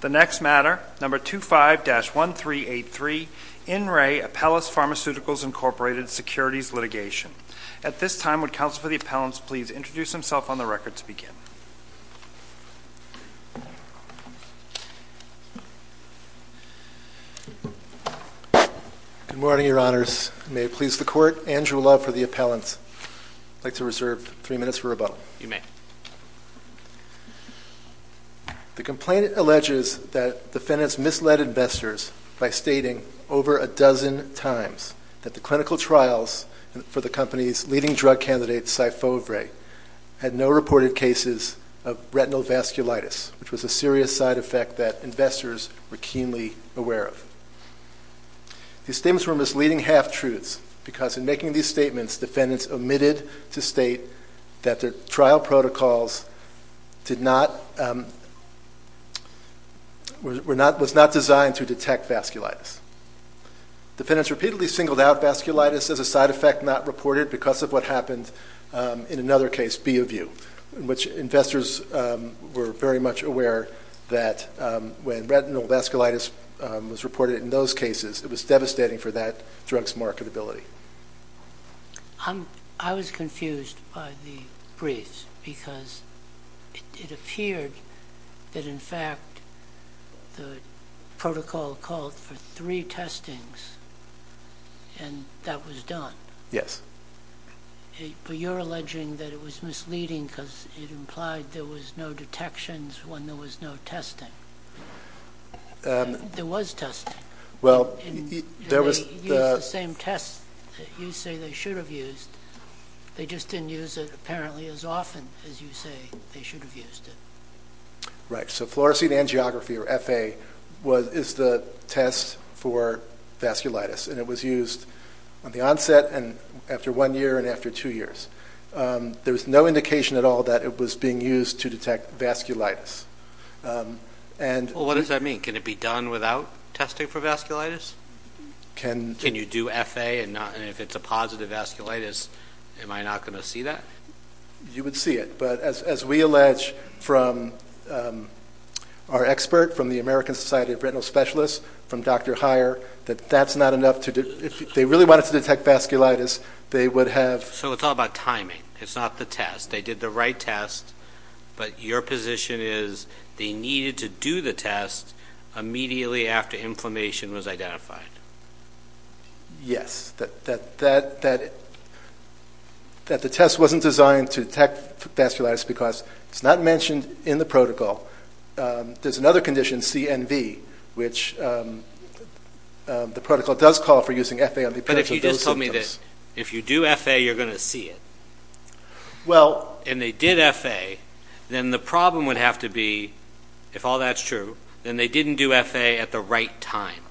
The next matter, No. 25-1383, In Re. Apellis Pharm. Inc. Securities Litigation. At this time, would Counsel for the Appellants please introduce himself on the record to begin? Good morning, Your Honors. May it please the Court, Andrew Love for the Appellants. I'd like to reserve three minutes for rebuttal. You may. The complaint alleges that defendants misled investors by stating over a dozen times that the clinical trials for the company's leading drug candidate, Sifovre, had no reported cases of retinal vasculitis, which was a serious side effect that investors were keenly aware of. These statements were misleading half-truths, because in making these statements, defendants omitted to state that their trial protocols were not designed to detect vasculitis. Defendants repeatedly singled out vasculitis as a side effect not reported because of what happened in another case, B. of U., in which investors were very much aware that when retinal vasculitis was reported in those cases, it was devastating for that drug's marketability. I was confused by the briefs, because it appeared that, in fact, the protocol called for three testings, and that was done. Yes. But you're alleging that it was misleading because it implied there was no detections when there was no testing. There was testing. And they used the same test that you say they should have used. They just didn't use it apparently as often as you say they should have used it. Right. So Fluorescein Angiography, or FA, is the test for vasculitis, and it was used on the onset, and after one year, and after two years. There was no indication at all that it was being used to detect vasculitis. Well, what does that mean? Can it be done without testing for vasculitis? Can you do FA, and if it's a positive vasculitis, am I not going to see that? You would see it, but as we allege from our expert from the American Society of Retinal Specialists, from Dr. Heyer, that that's not enough. If they really wanted to detect vasculitis, they would have... So it's all about timing. It's not the test. They did the right test, but your position is they needed to do the test immediately after inflammation was identified. Yes. That the test wasn't designed to detect vasculitis because it's not mentioned in the protocol. There's another condition, CNV, which the protocol does call for using FA on the appearance of those symptoms. But if you just told me that if you do FA, you're going to see it, and they did FA, then the problem would have to be, if all that's true, then they didn't do FA at the right time.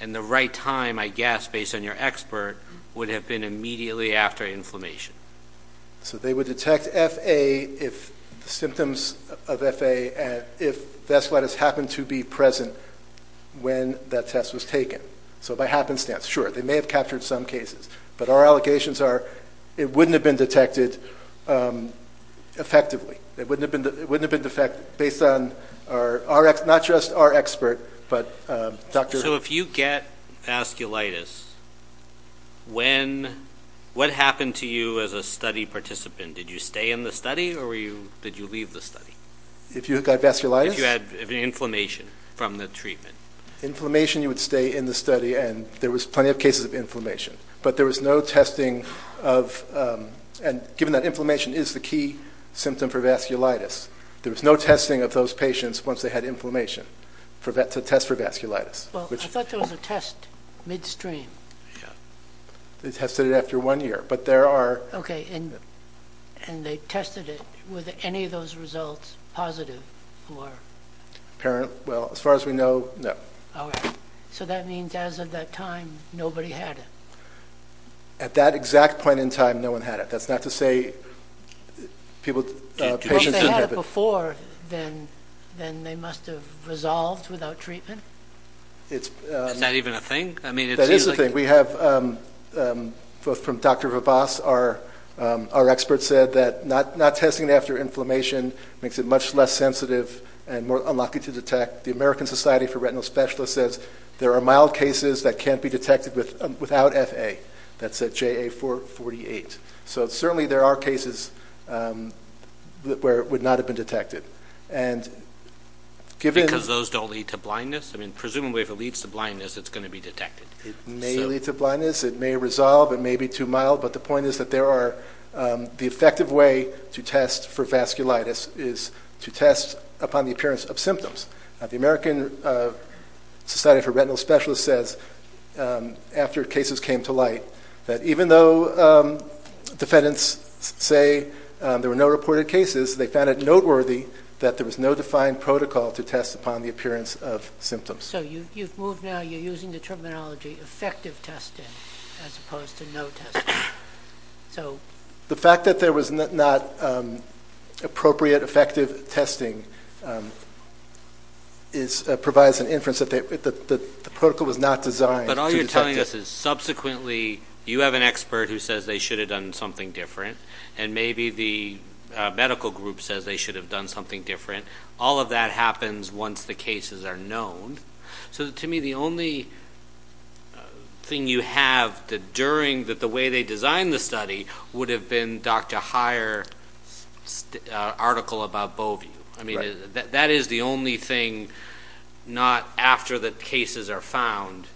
And the right time, I guess, based on your expert, would have been immediately after inflammation. So they would detect FA, the symptoms of FA, if vasculitis happened to be present when that test was taken. So by happenstance, sure, they may have captured some cases. But our allegations are it wouldn't have been detected effectively. It wouldn't have been detected based on not just our expert, but Dr. So if you get vasculitis, what happened to you as a study participant? Did you stay in the study, or did you leave the study? If you got vasculitis? If you had inflammation from the treatment. Inflammation, you would stay in the study, and there was plenty of cases of inflammation. But there was no testing of, and given that inflammation is the key symptom for vasculitis, there was no testing of those patients once they had inflammation to test for vasculitis. Well, I thought there was a test midstream. They tested it after one year, but there are... Okay, and they tested it. Were any of those results positive? Well, as far as we know, no. So that means as of that time, nobody had it. At that exact point in time, no one had it. That's not to say patients didn't have it. Well, if they had it before, then they must have resolved without treatment? Is that even a thing? That is a thing. We have, from Dr. Vavas, our expert said that not testing it after inflammation makes it much less sensitive and more unlikely to detect. The American Society for Retinal Specialists says there are mild cases that can't be detected without FA. That's JA-448. So certainly there are cases where it would not have been detected. Because those don't lead to blindness? I mean, presumably if it leads to blindness, it's going to be detected. It may lead to blindness. It may resolve. It may be too mild. But the point is that the effective way to test for vasculitis is to test upon the appearance of symptoms. The American Society for Retinal Specialists says, after cases came to light, that even though defendants say there were no reported cases, they found it noteworthy that there was no defined protocol to test upon the appearance of symptoms. So you've moved now. You're using the terminology effective testing as opposed to no testing. The fact that there was not appropriate effective testing provides an inference that the protocol was not designed to detect. But all you're telling us is subsequently you have an expert who says they should have done something different, and maybe the medical group says they should have done something different. All of that happens once the cases are known. So to me, the only thing you have during the way they designed the study would have been Dr. Heyer's article about Bovee. That is the only thing, not after the cases are found,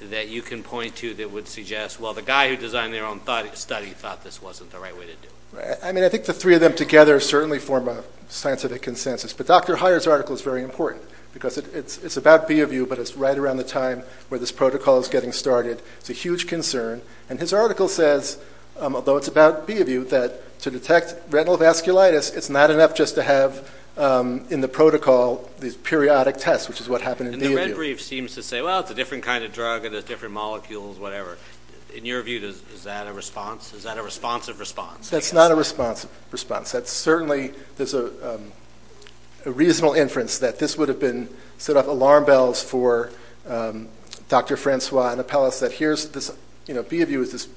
that you can point to that would suggest, well, the guy who designed their own study thought this wasn't the right way to do it. I think the three of them together certainly form a scientific consensus. But Dr. Heyer's article is very important because it's about Bovee, but it's right around the time where this protocol is getting started. It's a huge concern. And his article says, although it's about Bovee, that to detect retinal vasculitis, it's not enough just to have in the protocol these periodic tests, which is what happened in Bovee. And the red brief seems to say, well, it's a different kind of drug, it has different molecules, whatever. In your view, is that a response? Is that a responsive response? That's not a responsive response. Certainly there's a reasonable inference that this would have been sort of alarm bells for Dr. Francois and Apellas, that Bovee was this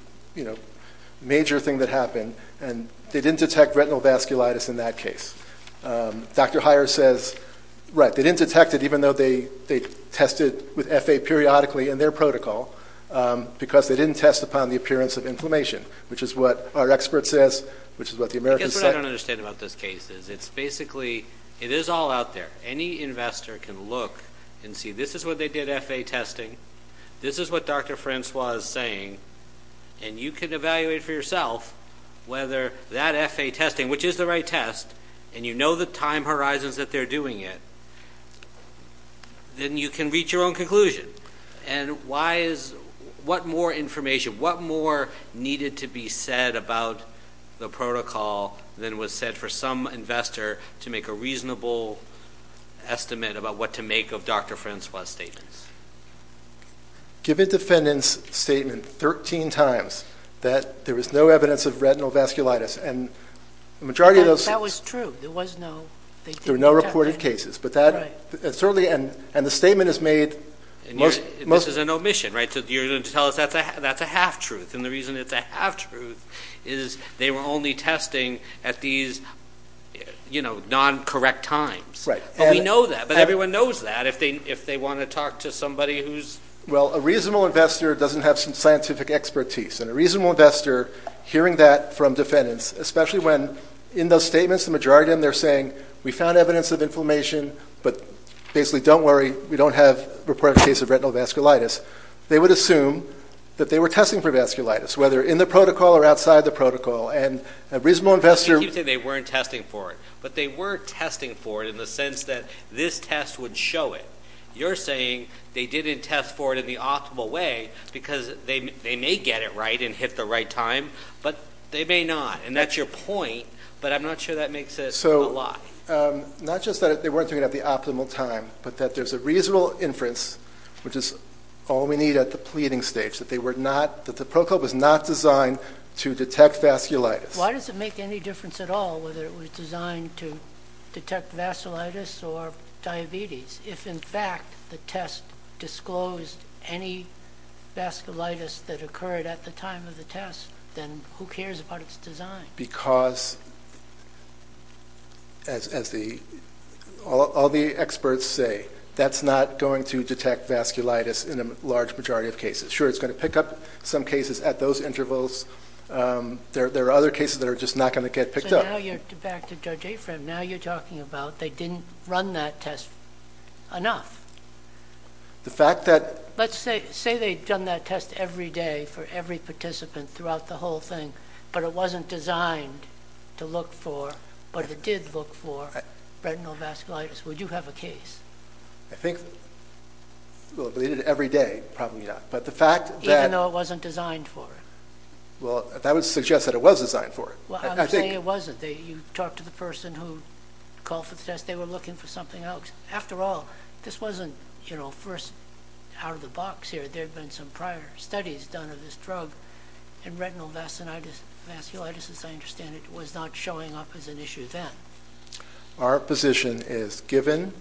major thing that happened, and they didn't detect retinal vasculitis in that case. Dr. Heyer says, right, they didn't detect it, even though they tested with FA periodically in their protocol, because they didn't test upon the appearance of inflammation, which is what our expert says, which is what the Americans say. I guess what I don't understand about this case is it's basically, it is all out there. Any investor can look and see this is what they did, FA testing. This is what Dr. Francois is saying. And you can evaluate for yourself whether that FA testing, which is the right test, and you know the time horizons that they're doing it, then you can reach your own conclusion. And why is, what more information, what more needed to be said about the protocol than was said for some investor to make a reasonable estimate about what to make of Dr. Francois' statements? Given defendants' statement 13 times that there was no evidence of retinal vasculitis, and the majority of those... That was true. There was no... There were no reported cases, but that certainly, and the statement is made... This is an omission, right? You're going to tell us that's a half-truth, and the reason it's a half-truth is they were only testing at these, you know, non-correct times. Right. But we know that, but everyone knows that if they want to talk to somebody who's... Well, a reasonable investor doesn't have some scientific expertise, and a reasonable investor hearing that from defendants, especially when in those statements the majority of them, they're saying, we found evidence of inflammation, but basically don't worry, we don't have reported cases of retinal vasculitis, they would assume that they were testing for vasculitis, whether in the protocol or outside the protocol. And a reasonable investor... Well, I can't keep saying they weren't testing for it, but they were testing for it in the sense that this test would show it. You're saying they didn't test for it in the optimal way because they may get it right and hit the right time, but they may not, and that's your point, but I'm not sure that makes a lot. So, not just that they weren't doing it at the optimal time, but that there's a reasonable inference, which is all we need at the pleading stage, that the protocol was not designed to detect vasculitis. Why does it make any difference at all whether it was designed to detect vasculitis or diabetes? If, in fact, the test disclosed any vasculitis that occurred at the time of the test, then who cares about its design? Because, as all the experts say, that's not going to detect vasculitis in a large majority of cases. Sure, it's going to pick up some cases at those intervals. There are other cases that are just not going to get picked up. So now you're back to Judge Afram. Now you're talking about they didn't run that test enough. The fact that... Let's say they'd done that test every day for every participant throughout the whole thing, but it wasn't designed to look for, but it did look for, retinal vasculitis. Would you have a case? I think, well, they did it every day, probably not, but the fact that... Well, that would suggest that it was designed for it. I'm saying it wasn't. You talked to the person who called for the test. They were looking for something else. After all, this wasn't first out of the box here. There had been some prior studies done of this drug, and retinal vasculitis, as I understand it, was not showing up as an issue then. Our position is given.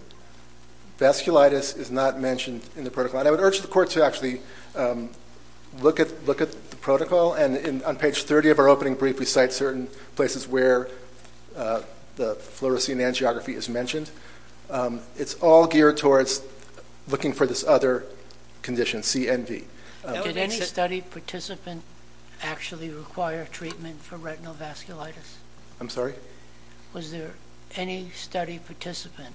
Vasculitis is not mentioned in the protocol. I would urge the Court to actually look at the protocol, and on page 30 of our opening brief we cite certain places where the fluorescein angiography is mentioned. It's all geared towards looking for this other condition, CNV. Did any study participant actually require treatment for retinal vasculitis? I'm sorry? Was there any study participant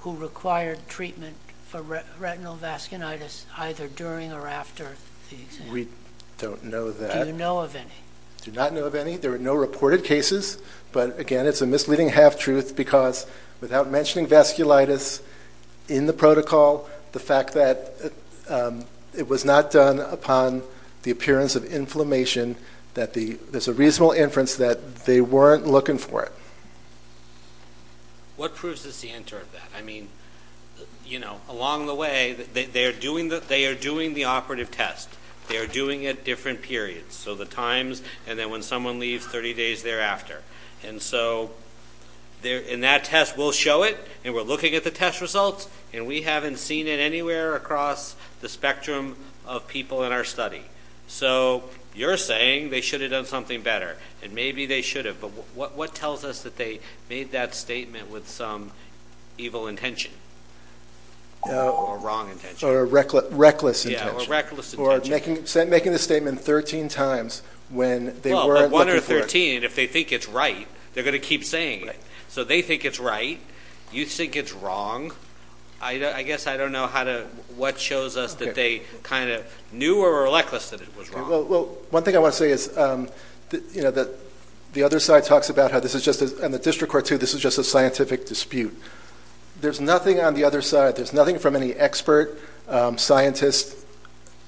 who required treatment for retinal vasculitis either during or after the exam? We don't know that. Do you know of any? I do not know of any. There were no reported cases, but, again, it's a misleading half-truth because without mentioning vasculitis in the protocol, the fact that it was not done upon the appearance of inflammation, there's a reasonable inference that they weren't looking for it. What proves this the answer of that? Along the way, they are doing the operative test. They are doing it at different periods, so the times, and then when someone leaves, 30 days thereafter. In that test, we'll show it, and we're looking at the test results, and we haven't seen it anywhere across the spectrum of people in our study. So you're saying they should have done something better, and maybe they should have, but what tells us that they made that statement with some evil intention or wrong intention? Or reckless intention. Yeah, or reckless intention. Or making the statement 13 times when they weren't looking for it. Well, but one out of 13, if they think it's right, they're going to keep saying it. So they think it's right. You think it's wrong. I guess I don't know what shows us that they kind of knew or were reckless that it was wrong. Well, one thing I want to say is that the other side talks about how this is just, and the district court, too, this is just a scientific dispute. There's nothing on the other side, there's nothing from any expert scientist,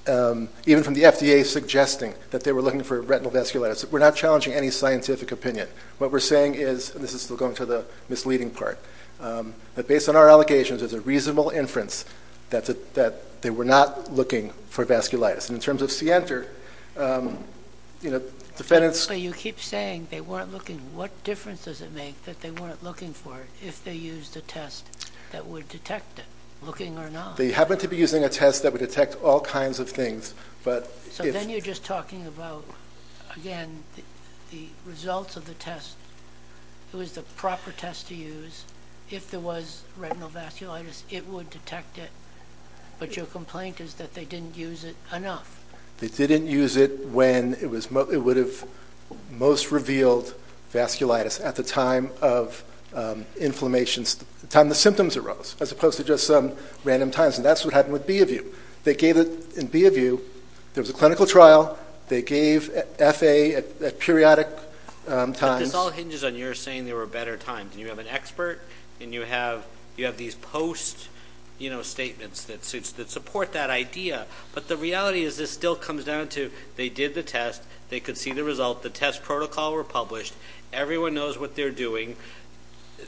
even from the FDA, suggesting that they were looking for retinal vasculitis. We're not challenging any scientific opinion. What we're saying is, and this is still going to the misleading part, that based on our allegations, there's a reasonable inference that they were not looking for vasculitis. And in terms of Sienter, you know, defendants. But you keep saying they weren't looking. What difference does it make that they weren't looking for it if they used a test that would detect it, looking or not? They happen to be using a test that would detect all kinds of things, but if. So then you're just talking about, again, the results of the test. It was the proper test to use. If there was retinal vasculitis, it would detect it. But your complaint is that they didn't use it enough. They didn't use it when it would have most revealed vasculitis at the time of inflammation, the time the symptoms arose, as opposed to just some random times. And that's what happened with B of U. They gave it in B of U. There was a clinical trial. They gave F.A. at periodic times. But this all hinges on your saying there were better times. And you have an expert, and you have these post statements that support that idea. But the reality is this still comes down to they did the test. They could see the result. The test protocol were published. Everyone knows what they're doing.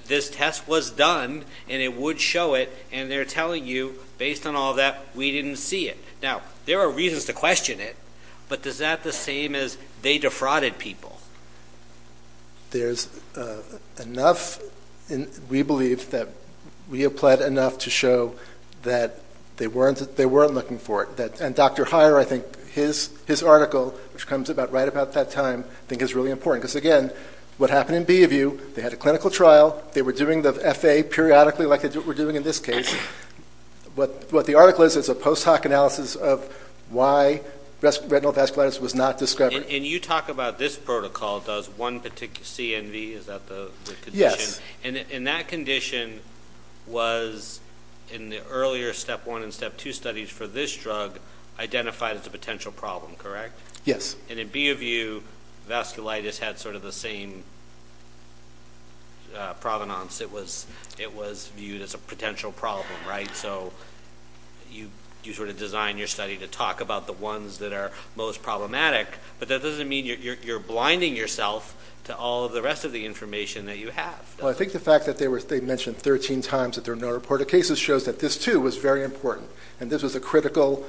This test was done, and it would show it. And they're telling you, based on all that, we didn't see it. Now, there are reasons to question it. But is that the same as they defrauded people? There's enough, we believe, that we have pled enough to show that they weren't looking for it. And Dr. Heyer, I think, his article, which comes right about that time, I think is really important. Because, again, what happened in B of U, they had a clinical trial. They were doing the F.A. periodically like they were doing in this case. But what the article is, it's a post hoc analysis of why retinal vasculitis was not discovered. And you talk about this protocol does one CNV, is that the condition? And that condition was, in the earlier step one and step two studies for this drug, identified as a potential problem, correct? Yes. And in B of U, vasculitis had sort of the same provenance. It was viewed as a potential problem, right? So you sort of design your study to talk about the ones that are most problematic. But that doesn't mean you're blinding yourself to all of the rest of the information that you have. Well, I think the fact that they mentioned 13 times that there were no reported cases shows that this, too, was very important. And this was a critical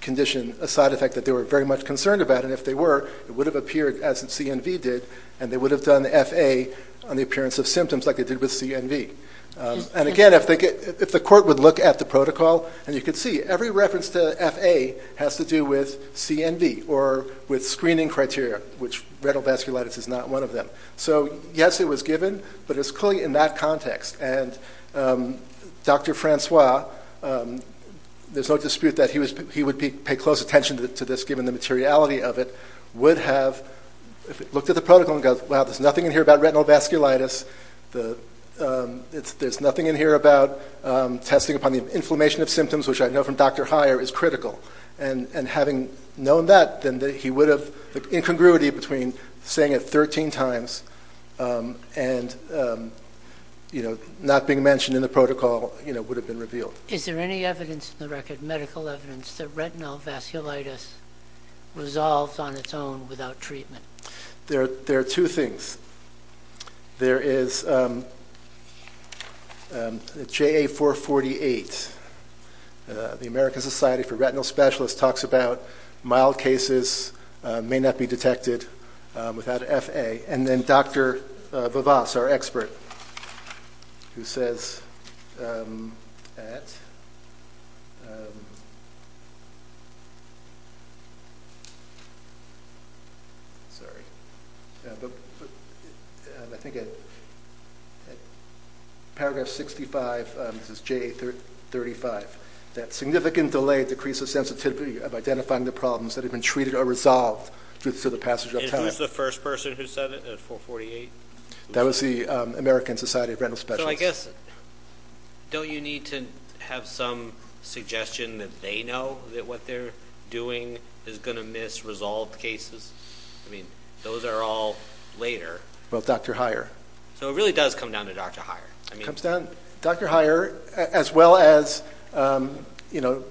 condition, a side effect that they were very much concerned about. And if they were, it would have appeared, as CNV did, and they would have done F.A. on the appearance of symptoms like they did with CNV. And again, if the court would look at the protocol, and you can see, every reference to F.A. has to do with CNV or with screening criteria, which retinal vasculitis is not one of them. So yes, it was given, but it's clearly in that context. And Dr. Francois, there's no dispute that he would pay close attention to this, would have looked at the protocol and gone, wow, there's nothing in here about retinal vasculitis, there's nothing in here about testing upon the inflammation of symptoms, which I know from Dr. Heyer is critical. And having known that, then he would have, the incongruity between saying it 13 times and not being mentioned in the protocol would have been revealed. Is there any evidence in the record, medical evidence, that retinal vasculitis resolves on its own without treatment? There are two things. There is J.A. 448, the American Society for Retinal Specialists, talks about mild cases may not be detected without F.A. And then Dr. Vavas, our expert, who says at paragraph 65, this is J.A. 35, that significant delay decreases sensitivity of identifying the problems that have been treated or resolved through the passage of time. Who's the first person who said it at 448? That was the American Society of Retinal Specialists. So I guess, don't you need to have some suggestion that they know that what they're doing is going to miss resolved cases? I mean, those are all later. Well, Dr. Heyer. So it really does come down to Dr. Heyer. It comes down to Dr. Heyer as well as, you know,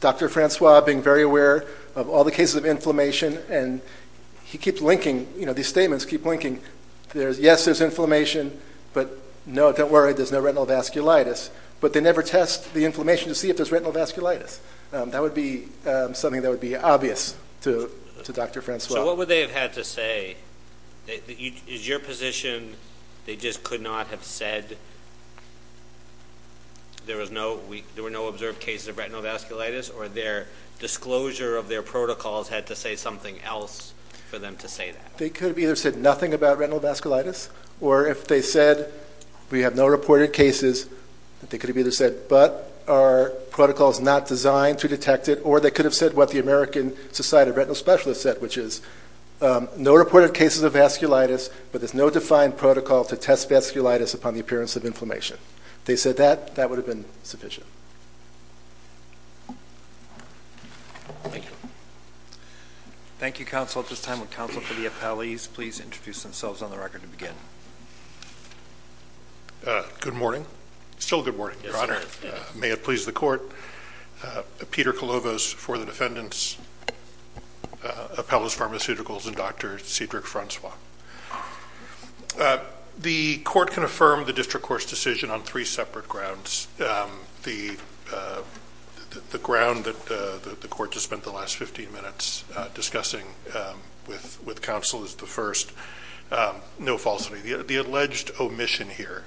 Dr. Francois being very aware of all the cases of inflammation, and he keeps linking, you know, these statements keep linking. Yes, there's inflammation, but no, don't worry, there's no retinal vasculitis. But they never test the inflammation to see if there's retinal vasculitis. That would be something that would be obvious to Dr. Francois. So what would they have had to say? Is your position they just could not have said there were no observed cases of retinal vasculitis or their disclosure of their protocols had to say something else for them to say that? They could have either said nothing about retinal vasculitis, or if they said we have no reported cases, they could have either said, but are protocols not designed to detect it, or they could have said what the American Society of Retinal Specialists said, which is no reported cases of vasculitis, but there's no defined protocol to test vasculitis upon the appearance of inflammation. If they said that, that would have been sufficient. Thank you. Thank you, counsel. At this time, would counsel for the appellees please introduce themselves on the record to begin? Good morning. Still good morning, Your Honor. May it please the Court. Peter Kolovos for the defendants, appellas, pharmaceuticals, and Dr. Cedric Francois. The Court can affirm the district court's decision on three separate grounds. The ground that the Court just spent the last 15 minutes discussing with counsel is the first. No falsity. The alleged omission here,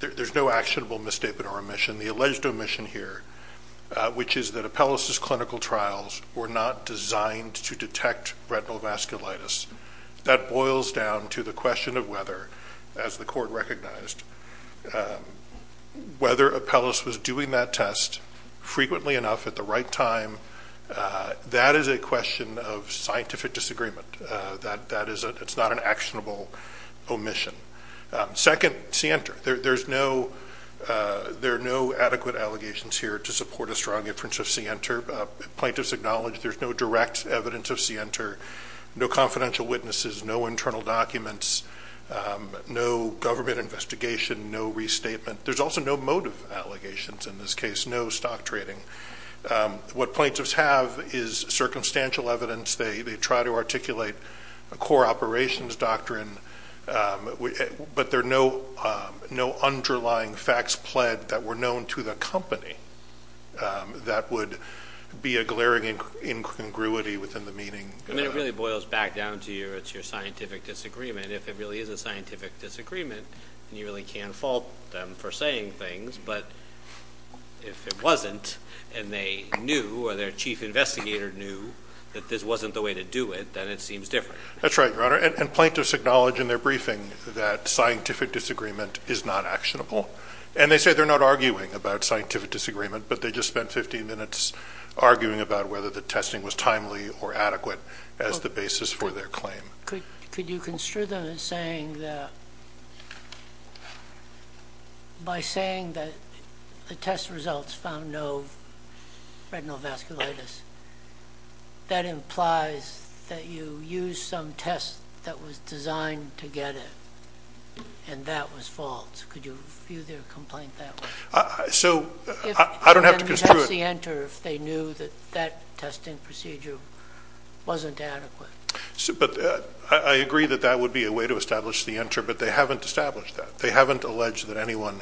there's no actionable misstatement or omission. The alleged omission here, which is that appellas' clinical trials were not designed to detect retinal vasculitis. That boils down to the question of whether, as the Court recognized, whether appellas was doing that test frequently enough at the right time. That is a question of scientific disagreement. It's not an actionable omission. Second, scienter. There are no adequate allegations here to support a strong inference of scienter. Plaintiffs acknowledge there's no direct evidence of scienter, no confidential witnesses, no internal documents, no government investigation, no restatement. There's also no motive allegations in this case, no stock trading. What plaintiffs have is circumstantial evidence. They try to articulate a core operations doctrine, but there are no underlying facts pled that were known to the company that would be a glaring incongruity within the meeting. I mean, it really boils back down to your scientific disagreement. If it really is a scientific disagreement, then you really can't fault them for saying things. But if it wasn't and they knew or their chief investigator knew that this wasn't the way to do it, then it seems different. That's right, Your Honor. And plaintiffs acknowledge in their briefing that scientific disagreement is not actionable. And they say they're not arguing about scientific disagreement, but they just spent 15 minutes arguing about whether the testing was timely or adequate as the basis for their claim. Could you construe them as saying that by saying that the test results found no retinal vasculitis, that implies that you used some test that was designed to get it, and that was false. Could you view their complaint that way? So I don't have to construe it. What about the enter if they knew that that testing procedure wasn't adequate? But I agree that that would be a way to establish the enter, but they haven't established that. They haven't alleged that anyone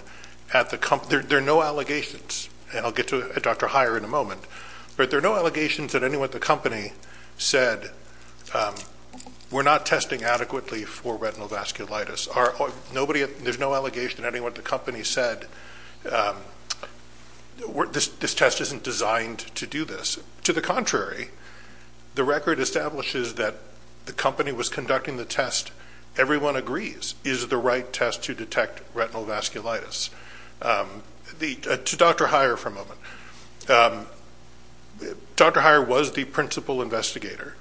at the company – there are no allegations. And I'll get to Dr. Heyer in a moment. But there are no allegations that anyone at the company said we're not testing adequately for retinal vasculitis. There's no allegation that anyone at the company said this test isn't designed to do this. To the contrary, the record establishes that the company was conducting the test, everyone agrees, is the right test to detect retinal vasculitis. To Dr. Heyer for a moment. Dr. Heyer was the principal investigator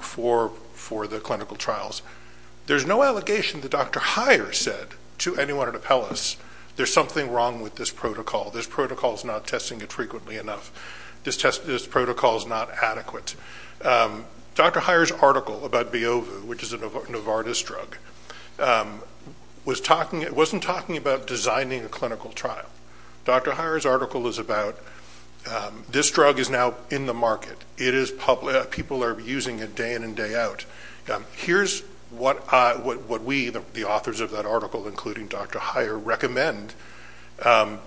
for the clinical trials. There's no allegation that Dr. Heyer said to anyone at Appellus there's something wrong with this protocol. This protocol is not testing it frequently enough. This protocol is not adequate. Dr. Heyer's article about Biovu, which is a Novartis drug, wasn't talking about designing a clinical trial. Dr. Heyer's article is about this drug is now in the market. People are using it day in and day out. Here's what we, the authors of that article, including Dr. Heyer, recommend.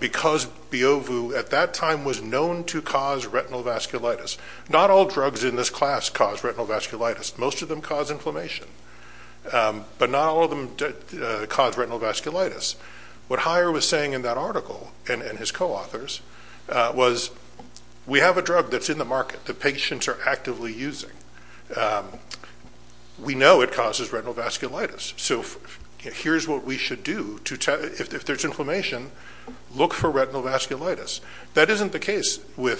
Because Biovu at that time was known to cause retinal vasculitis. Not all drugs in this class cause retinal vasculitis. Most of them cause inflammation. But not all of them cause retinal vasculitis. What Heyer was saying in that article and his co-authors was we have a drug that's in the market that patients are actively using. We know it causes retinal vasculitis. So here's what we should do. If there's inflammation, look for retinal vasculitis. That isn't the case. You're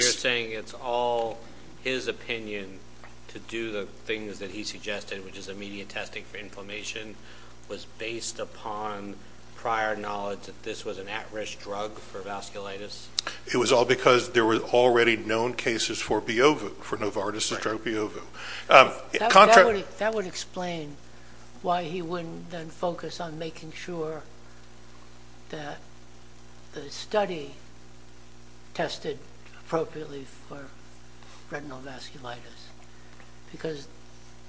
saying it's all his opinion to do the things that he suggested, which is immediate testing for inflammation, was based upon prior knowledge that this was an at-risk drug for vasculitis? It was all because there were already known cases for Biovu, for Novartis' drug Biovu. That would explain why he wouldn't then focus on making sure that the study tested appropriately for retinal vasculitis. Because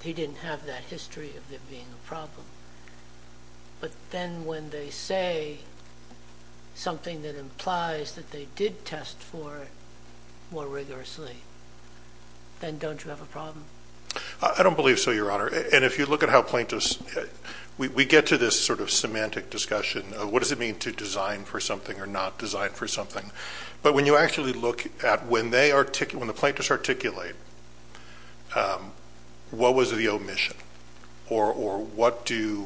he didn't have that history of there being a problem. But then when they say something that implies that they did test for it more rigorously, then don't you have a problem? I don't believe so, Your Honor. And if you look at how plaintiffs – we get to this sort of semantic discussion of what does it mean to design for something or not design for something. But when you actually look at when the plaintiffs articulate, what was the omission? Or what did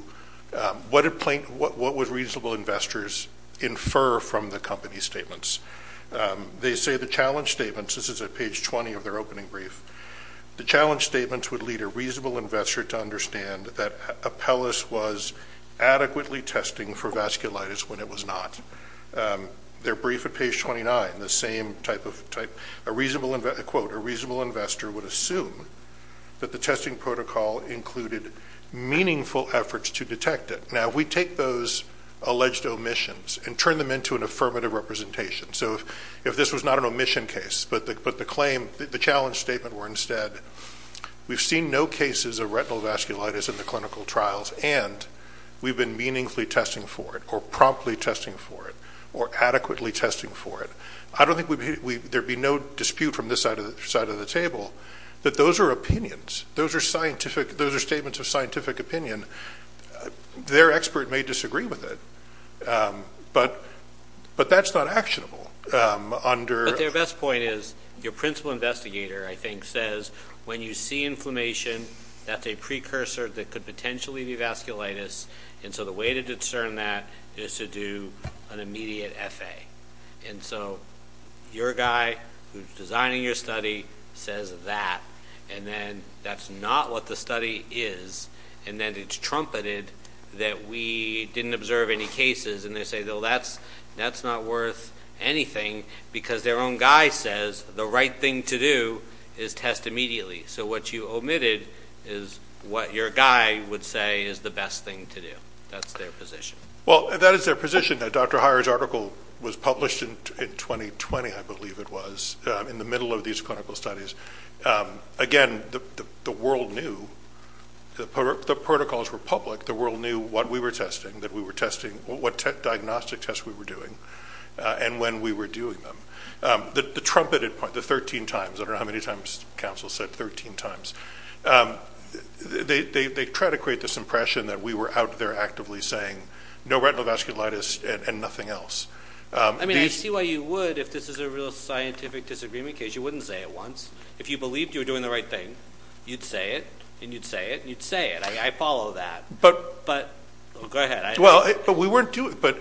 reasonable investors infer from the company's statements? They say the challenge statements – this is at page 20 of their opening brief – the challenge statements would lead a reasonable investor to understand that Apellis was adequately testing for vasculitis when it was not. Their brief at page 29, the same type of – quote, a reasonable investor would assume that the testing protocol included meaningful efforts to detect it. Now, if we take those alleged omissions and turn them into an affirmative representation – so if this was not an omission case, but the challenge statement were instead, we've seen no cases of retinal vasculitis in the clinical trials and we've been meaningfully testing for it or promptly testing for it or adequately testing for it. I don't think there would be no dispute from this side of the table that those are opinions. Those are statements of scientific opinion. Their expert may disagree with it, but that's not actionable. But their best point is your principal investigator, I think, says when you see inflammation, that's a precursor that could potentially be vasculitis, and so the way to discern that is to do an immediate FA. And so your guy who's designing your study says that, and then that's not what the study is, and then it's trumpeted that we didn't observe any cases, and they say, well, that's not worth anything, because their own guy says the right thing to do is test immediately. So what you omitted is what your guy would say is the best thing to do. That's their position. Well, that is their position. That Dr. Heyer's article was published in 2020, I believe it was, in the middle of these clinical studies. Again, the world knew. The protocols were public. The world knew what we were testing, what diagnostic tests we were doing, and when we were doing them. The trumpeted point, the 13 times, I don't know how many times counsel said 13 times, they try to create this impression that we were out there actively saying no retinal vasculitis and nothing else. I mean, I see why you would if this is a real scientific disagreement case. You wouldn't say it once. If you believed you were doing the right thing, you'd say it, and you'd say it, and you'd say it. I follow that. Go ahead. Well, but we weren't doing it.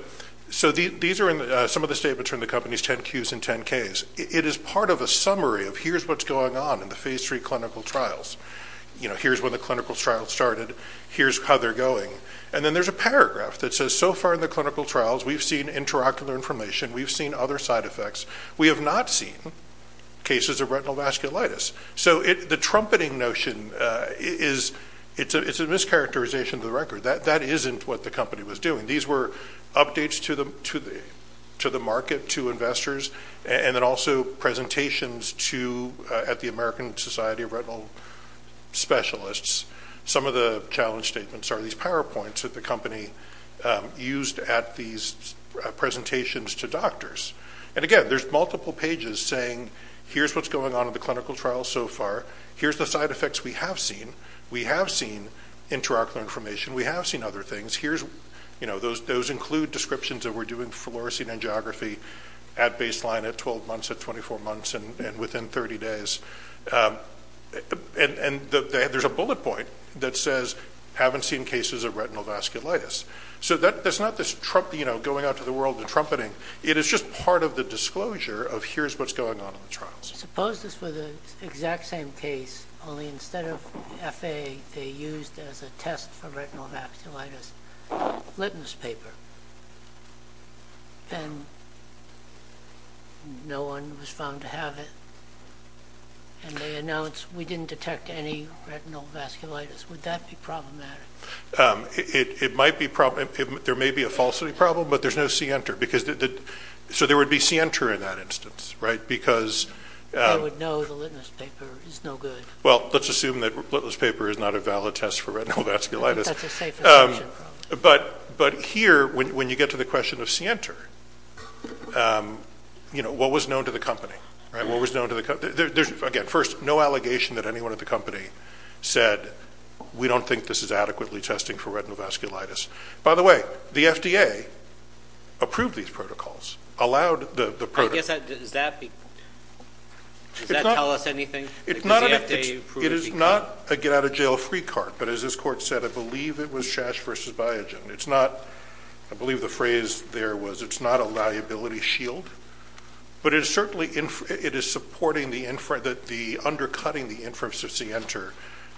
So these are some of the statements from the company's 10-Qs and 10-Ks. It is part of a summary of here's what's going on in the Phase III clinical trials. Here's when the clinical trials started. Here's how they're going. And then there's a paragraph that says so far in the clinical trials we've seen interocular information. We've seen other side effects. We have not seen cases of retinal vasculitis. So the trumpeting notion is a mischaracterization of the record. That isn't what the company was doing. These were updates to the market, to investors, and then also presentations at the American Society of Retinal Specialists. Some of the challenge statements are these PowerPoints that the company used at these presentations to doctors. And, again, there's multiple pages saying here's what's going on in the clinical trials so far. Here's the side effects we have seen. We have seen interocular information. We have seen other things. Those include descriptions that we're doing for fluorescein angiography at baseline, at 12 months, at 24 months, and within 30 days. And there's a bullet point that says haven't seen cases of retinal vasculitis. So that's not going out to the world and trumpeting. It is just part of the disclosure of here's what's going on in the trials. Suppose this were the exact same case, only instead of FA, they used as a test for retinal vasculitis litmus paper. And no one was found to have it. And they announced we didn't detect any retinal vasculitis. Would that be problematic? It might be. There may be a falsity problem, but there's no C-enter. So there would be C-enter in that instance. They would know the litmus paper is no good. Well, let's assume that litmus paper is not a valid test for retinal vasculitis. That's a safe assumption. But here, when you get to the question of C-enter, what was known to the company? Again, first, no allegation that anyone at the company said we don't think this is adequately testing for retinal vasculitis. By the way, the FDA approved these protocols, allowed the protocols. Does that tell us anything? It is not a get-out-of-jail-free card. But as this Court said, I believe it was Shash v. Biogen. I believe the phrase there was it's not a liability shield. But it certainly is undercutting the inference of C-enter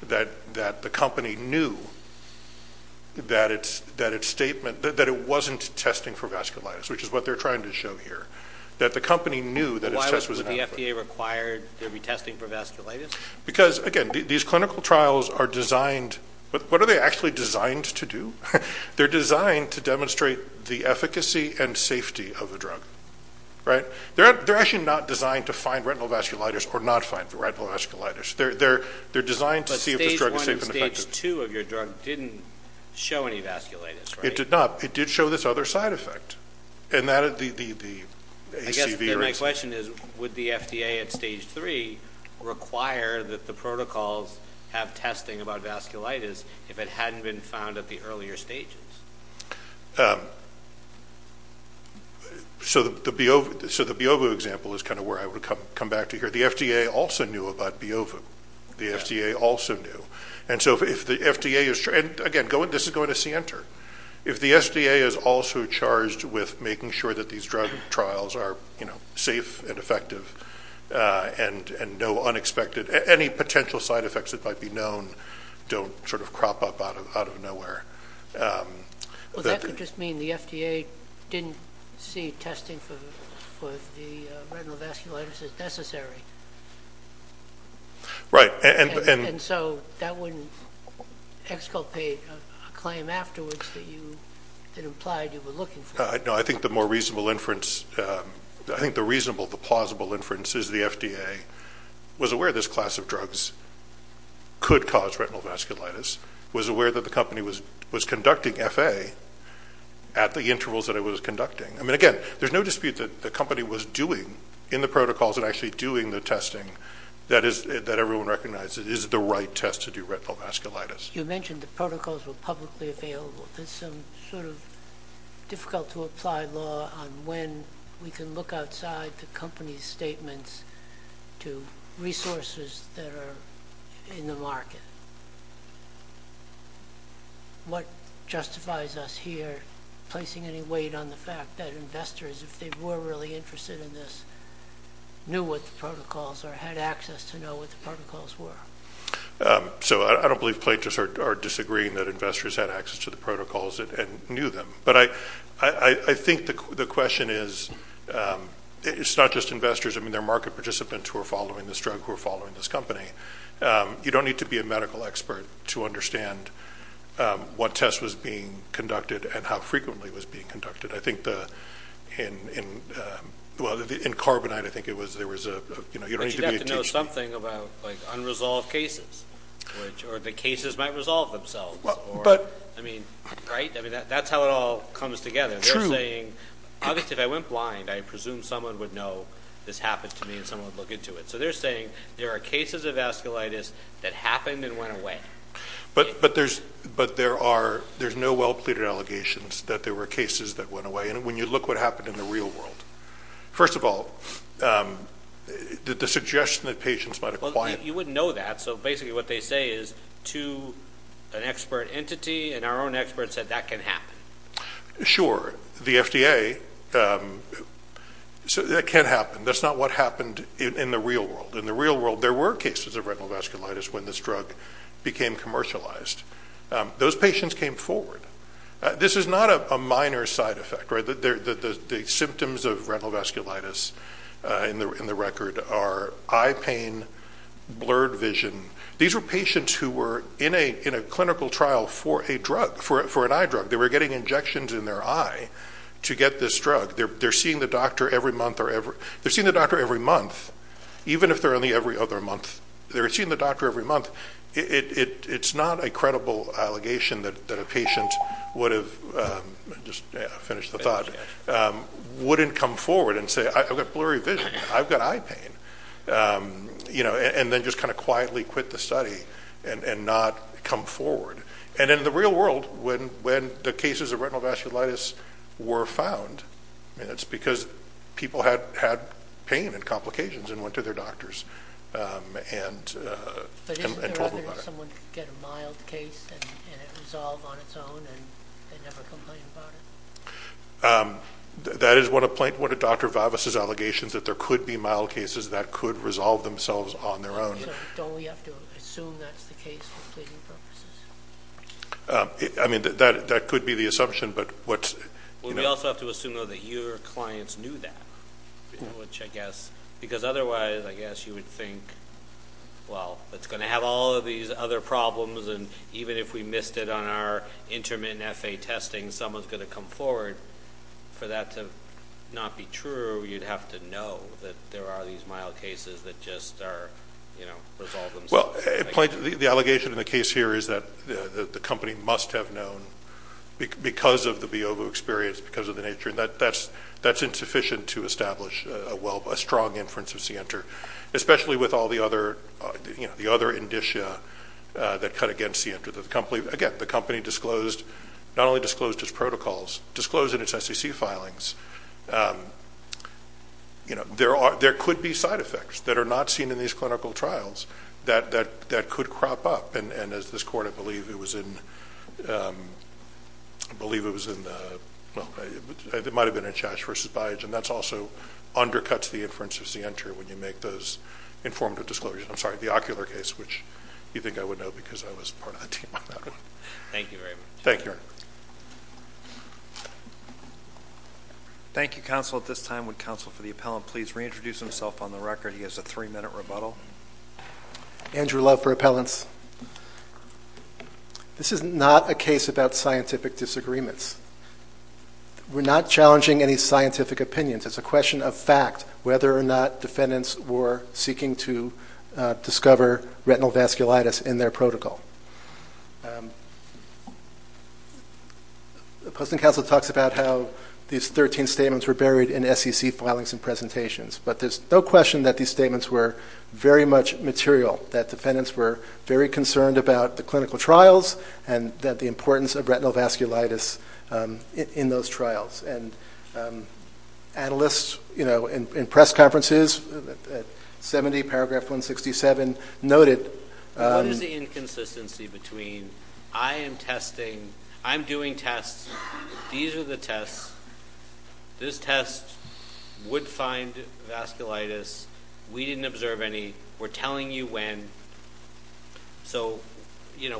that the company knew that it wasn't testing for vasculitis, which is what they're trying to show here, that the company knew that its test was adequate. Why would the FDA require there be testing for vasculitis? Because, again, these clinical trials are designed to demonstrate the efficacy and safety of a drug. They're actually not designed to find retinal vasculitis or not find retinal vasculitis. They're designed to see if this drug is safe and effective. But Stage 1 and Stage 2 of your drug didn't show any vasculitis, right? It did not. I guess my question is, would the FDA at Stage 3 require that the protocols have testing about vasculitis if it hadn't been found at the earlier stages? So the Biovu example is kind of where I would come back to here. The FDA also knew about Biovu. The FDA also knew. And, again, this is going to C-enter. If the FDA is also charged with making sure that these drug trials are safe and effective and no unexpected any potential side effects that might be known don't sort of crop up out of nowhere. Well, that could just mean the FDA didn't see testing for the retinal vasculitis as necessary. Right. And so that wouldn't exculpate a claim afterwards that implied you were looking for it. No, I think the more reasonable inference, I think the reasonable, the plausible inference, is the FDA was aware this class of drugs could cause retinal vasculitis, was aware that the company was conducting FA at the intervals that it was conducting. I mean, again, there's no dispute that the company was doing, in the protocols, and actually doing the testing that everyone recognizes is the right test to do retinal vasculitis. You mentioned the protocols were publicly available. There's some sort of difficult-to-apply law on when we can look outside the company's statements to resources that are in the market. What justifies us here placing any weight on the fact that investors, if they were really interested in this, knew what the protocols are, had access to know what the protocols were? So I don't believe plaintiffs are disagreeing that investors had access to the protocols and knew them. But I think the question is, it's not just investors. I mean, there are market participants who are following this drug, who are following this company. You don't need to be a medical expert to understand what test was being conducted and how frequently it was being conducted. I think in Carbonite, I think there was a, you know, you don't need to be a teacher. But you'd have to know something about, like, unresolved cases, or the cases might resolve themselves. I mean, right? I mean, that's how it all comes together. They're saying, obviously, if I went blind, I presume someone would know this happened to me and someone would look into it. So they're saying there are cases of vasculitis that happened and went away. But there's no well-pleaded allegations that there were cases that went away. And when you look what happened in the real world, first of all, the suggestion that patients might acquire. Well, you wouldn't know that. So basically what they say is to an expert entity, and our own experts said that can happen. Sure. The FDA said that can happen. That's not what happened in the real world. In the real world, there were cases of retinal vasculitis when this drug became commercialized. Those patients came forward. This is not a minor side effect, right? The symptoms of retinal vasculitis in the record are eye pain, blurred vision. These were patients who were in a clinical trial for a drug, for an eye drug. They were getting injections in their eye to get this drug. They're seeing the doctor every month, even if they're only every other month. They're seeing the doctor every month. It's not a credible allegation that a patient would have, just to finish the thought, wouldn't come forward and say, I've got blurry vision, I've got eye pain, and then just kind of quietly quit the study and not come forward. And in the real world, when the cases of retinal vasculitis were found, it's because people had pain and complications and went to their doctors and told them about it. But isn't there a better way for someone to get a mild case and it resolve on its own and never complain about it? That is one of Dr. Vavas' allegations, that there could be mild cases that could resolve themselves on their own. So don't we have to assume that's the case for pleading purposes? I mean, that could be the assumption. We also have to assume, though, that your clients knew that, because otherwise I guess you would think, well, it's going to have all of these other problems, and even if we missed it on our intermittent FA testing, someone's going to come forward. But for that to not be true, you'd have to know that there are these mild cases that just resolve themselves. Well, the allegation in the case here is that the company must have known because of the BOVU experience, because of the nature, and that's insufficient to establish a strong inference of CNTR, especially with all the other indicia that cut against CNTR. Again, the company disclosed not only disclosed its protocols, disclosed in its SEC filings. There could be side effects that are not seen in these clinical trials that could crop up, and as this Court, I believe it was in the, well, it might have been in Chash v. Byage, and that also undercuts the inference of CNTR when you make those informative disclosures. I'm sorry, the ocular case, which you think I would know because I was part of the team on that one. Thank you very much. Thank you, Your Honor. Thank you, counsel. At this time, would counsel for the appellant please reintroduce himself on the record? He has a three-minute rebuttal. Andrew Love for appellants. This is not a case about scientific disagreements. We're not challenging any scientific opinions. It's a question of fact, whether or not defendants were seeking to discover retinal vasculitis in their protocol. Post and counsel talks about how these 13 statements were buried in SEC filings and presentations, but there's no question that these statements were very much material, that defendants were very concerned about the clinical trials and that the importance of retinal vasculitis in those trials. Analysts in press conferences at 70 Paragraph 167 noted... What is the inconsistency between I am testing, I'm doing tests, these are the tests, this test would find vasculitis, we didn't observe any, we're telling you when, so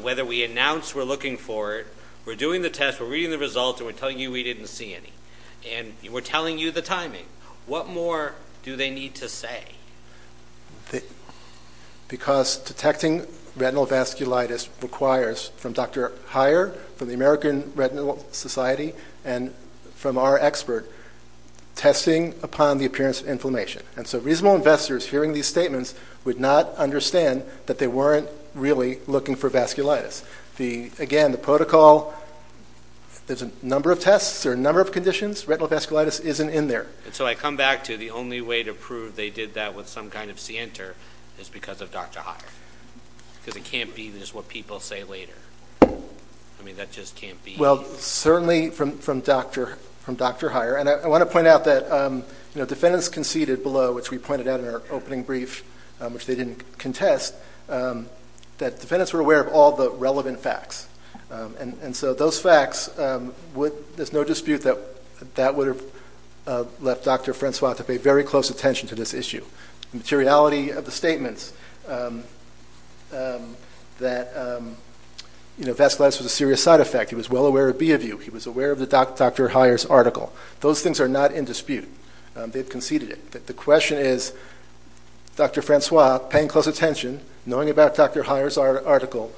whether we announce we're looking for it, we're doing the test, we're reading the results, and we're telling you we didn't see any. And we're telling you the timing. What more do they need to say? Because detecting retinal vasculitis requires, from Dr. Heyer, from the American Retinal Society, and from our expert, testing upon the appearance of inflammation. And so reasonable investors hearing these statements would not understand that they weren't really looking for vasculitis. Again, the protocol, there's a number of tests, there's a number of conditions, retinal vasculitis isn't in there. And so I come back to the only way to prove they did that with some kind of scienter is because of Dr. Heyer. Because it can't be just what people say later. I mean, that just can't be. Well, certainly from Dr. Heyer. And I want to point out that defendants conceded below, which we pointed out in our opening brief, which they didn't contest, that defendants were aware of all the relevant facts. And so those facts, there's no dispute that that would have left Dr. Francois to pay very close attention to this issue. The materiality of the statements that, you know, vasculitis was a serious side effect, he was well aware of B of U, he was aware of the Dr. Heyer's article, those things are not in dispute. They've conceded it. The question is, Dr. Francois paying close attention, knowing about Dr. Heyer's article,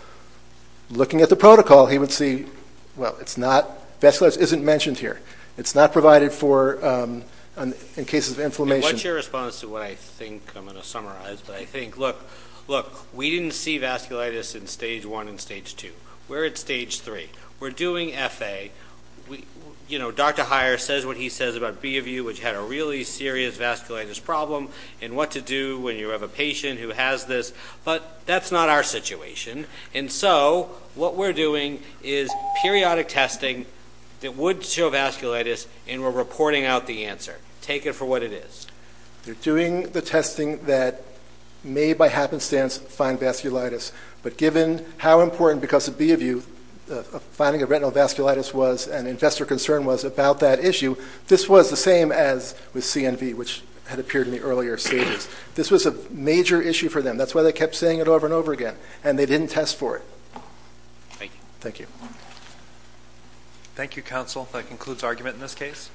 looking at the protocol, he would see, well, it's not, vasculitis isn't mentioned here. It's not provided for in cases of inflammation. What's your response to what I think I'm going to summarize? But I think, look, look, we didn't see vasculitis in Stage 1 and Stage 2. We're at Stage 3. We're doing F.A. You know, Dr. Heyer says what he says about B of U, which had a really serious vasculitis problem, and what to do when you have a patient who has this. But that's not our situation. And so what we're doing is periodic testing that would show vasculitis, and we're reporting out the answer. Take it for what it is. They're doing the testing that may, by happenstance, find vasculitis. But given how important, because of B of U, finding a retinal vasculitis was and investor concern was about that issue, this was the same as with CNV, which had appeared in the earlier stages. This was a major issue for them. That's why they kept saying it over and over again, and they didn't test for it. Thank you. Thank you, counsel. That concludes argument in this case.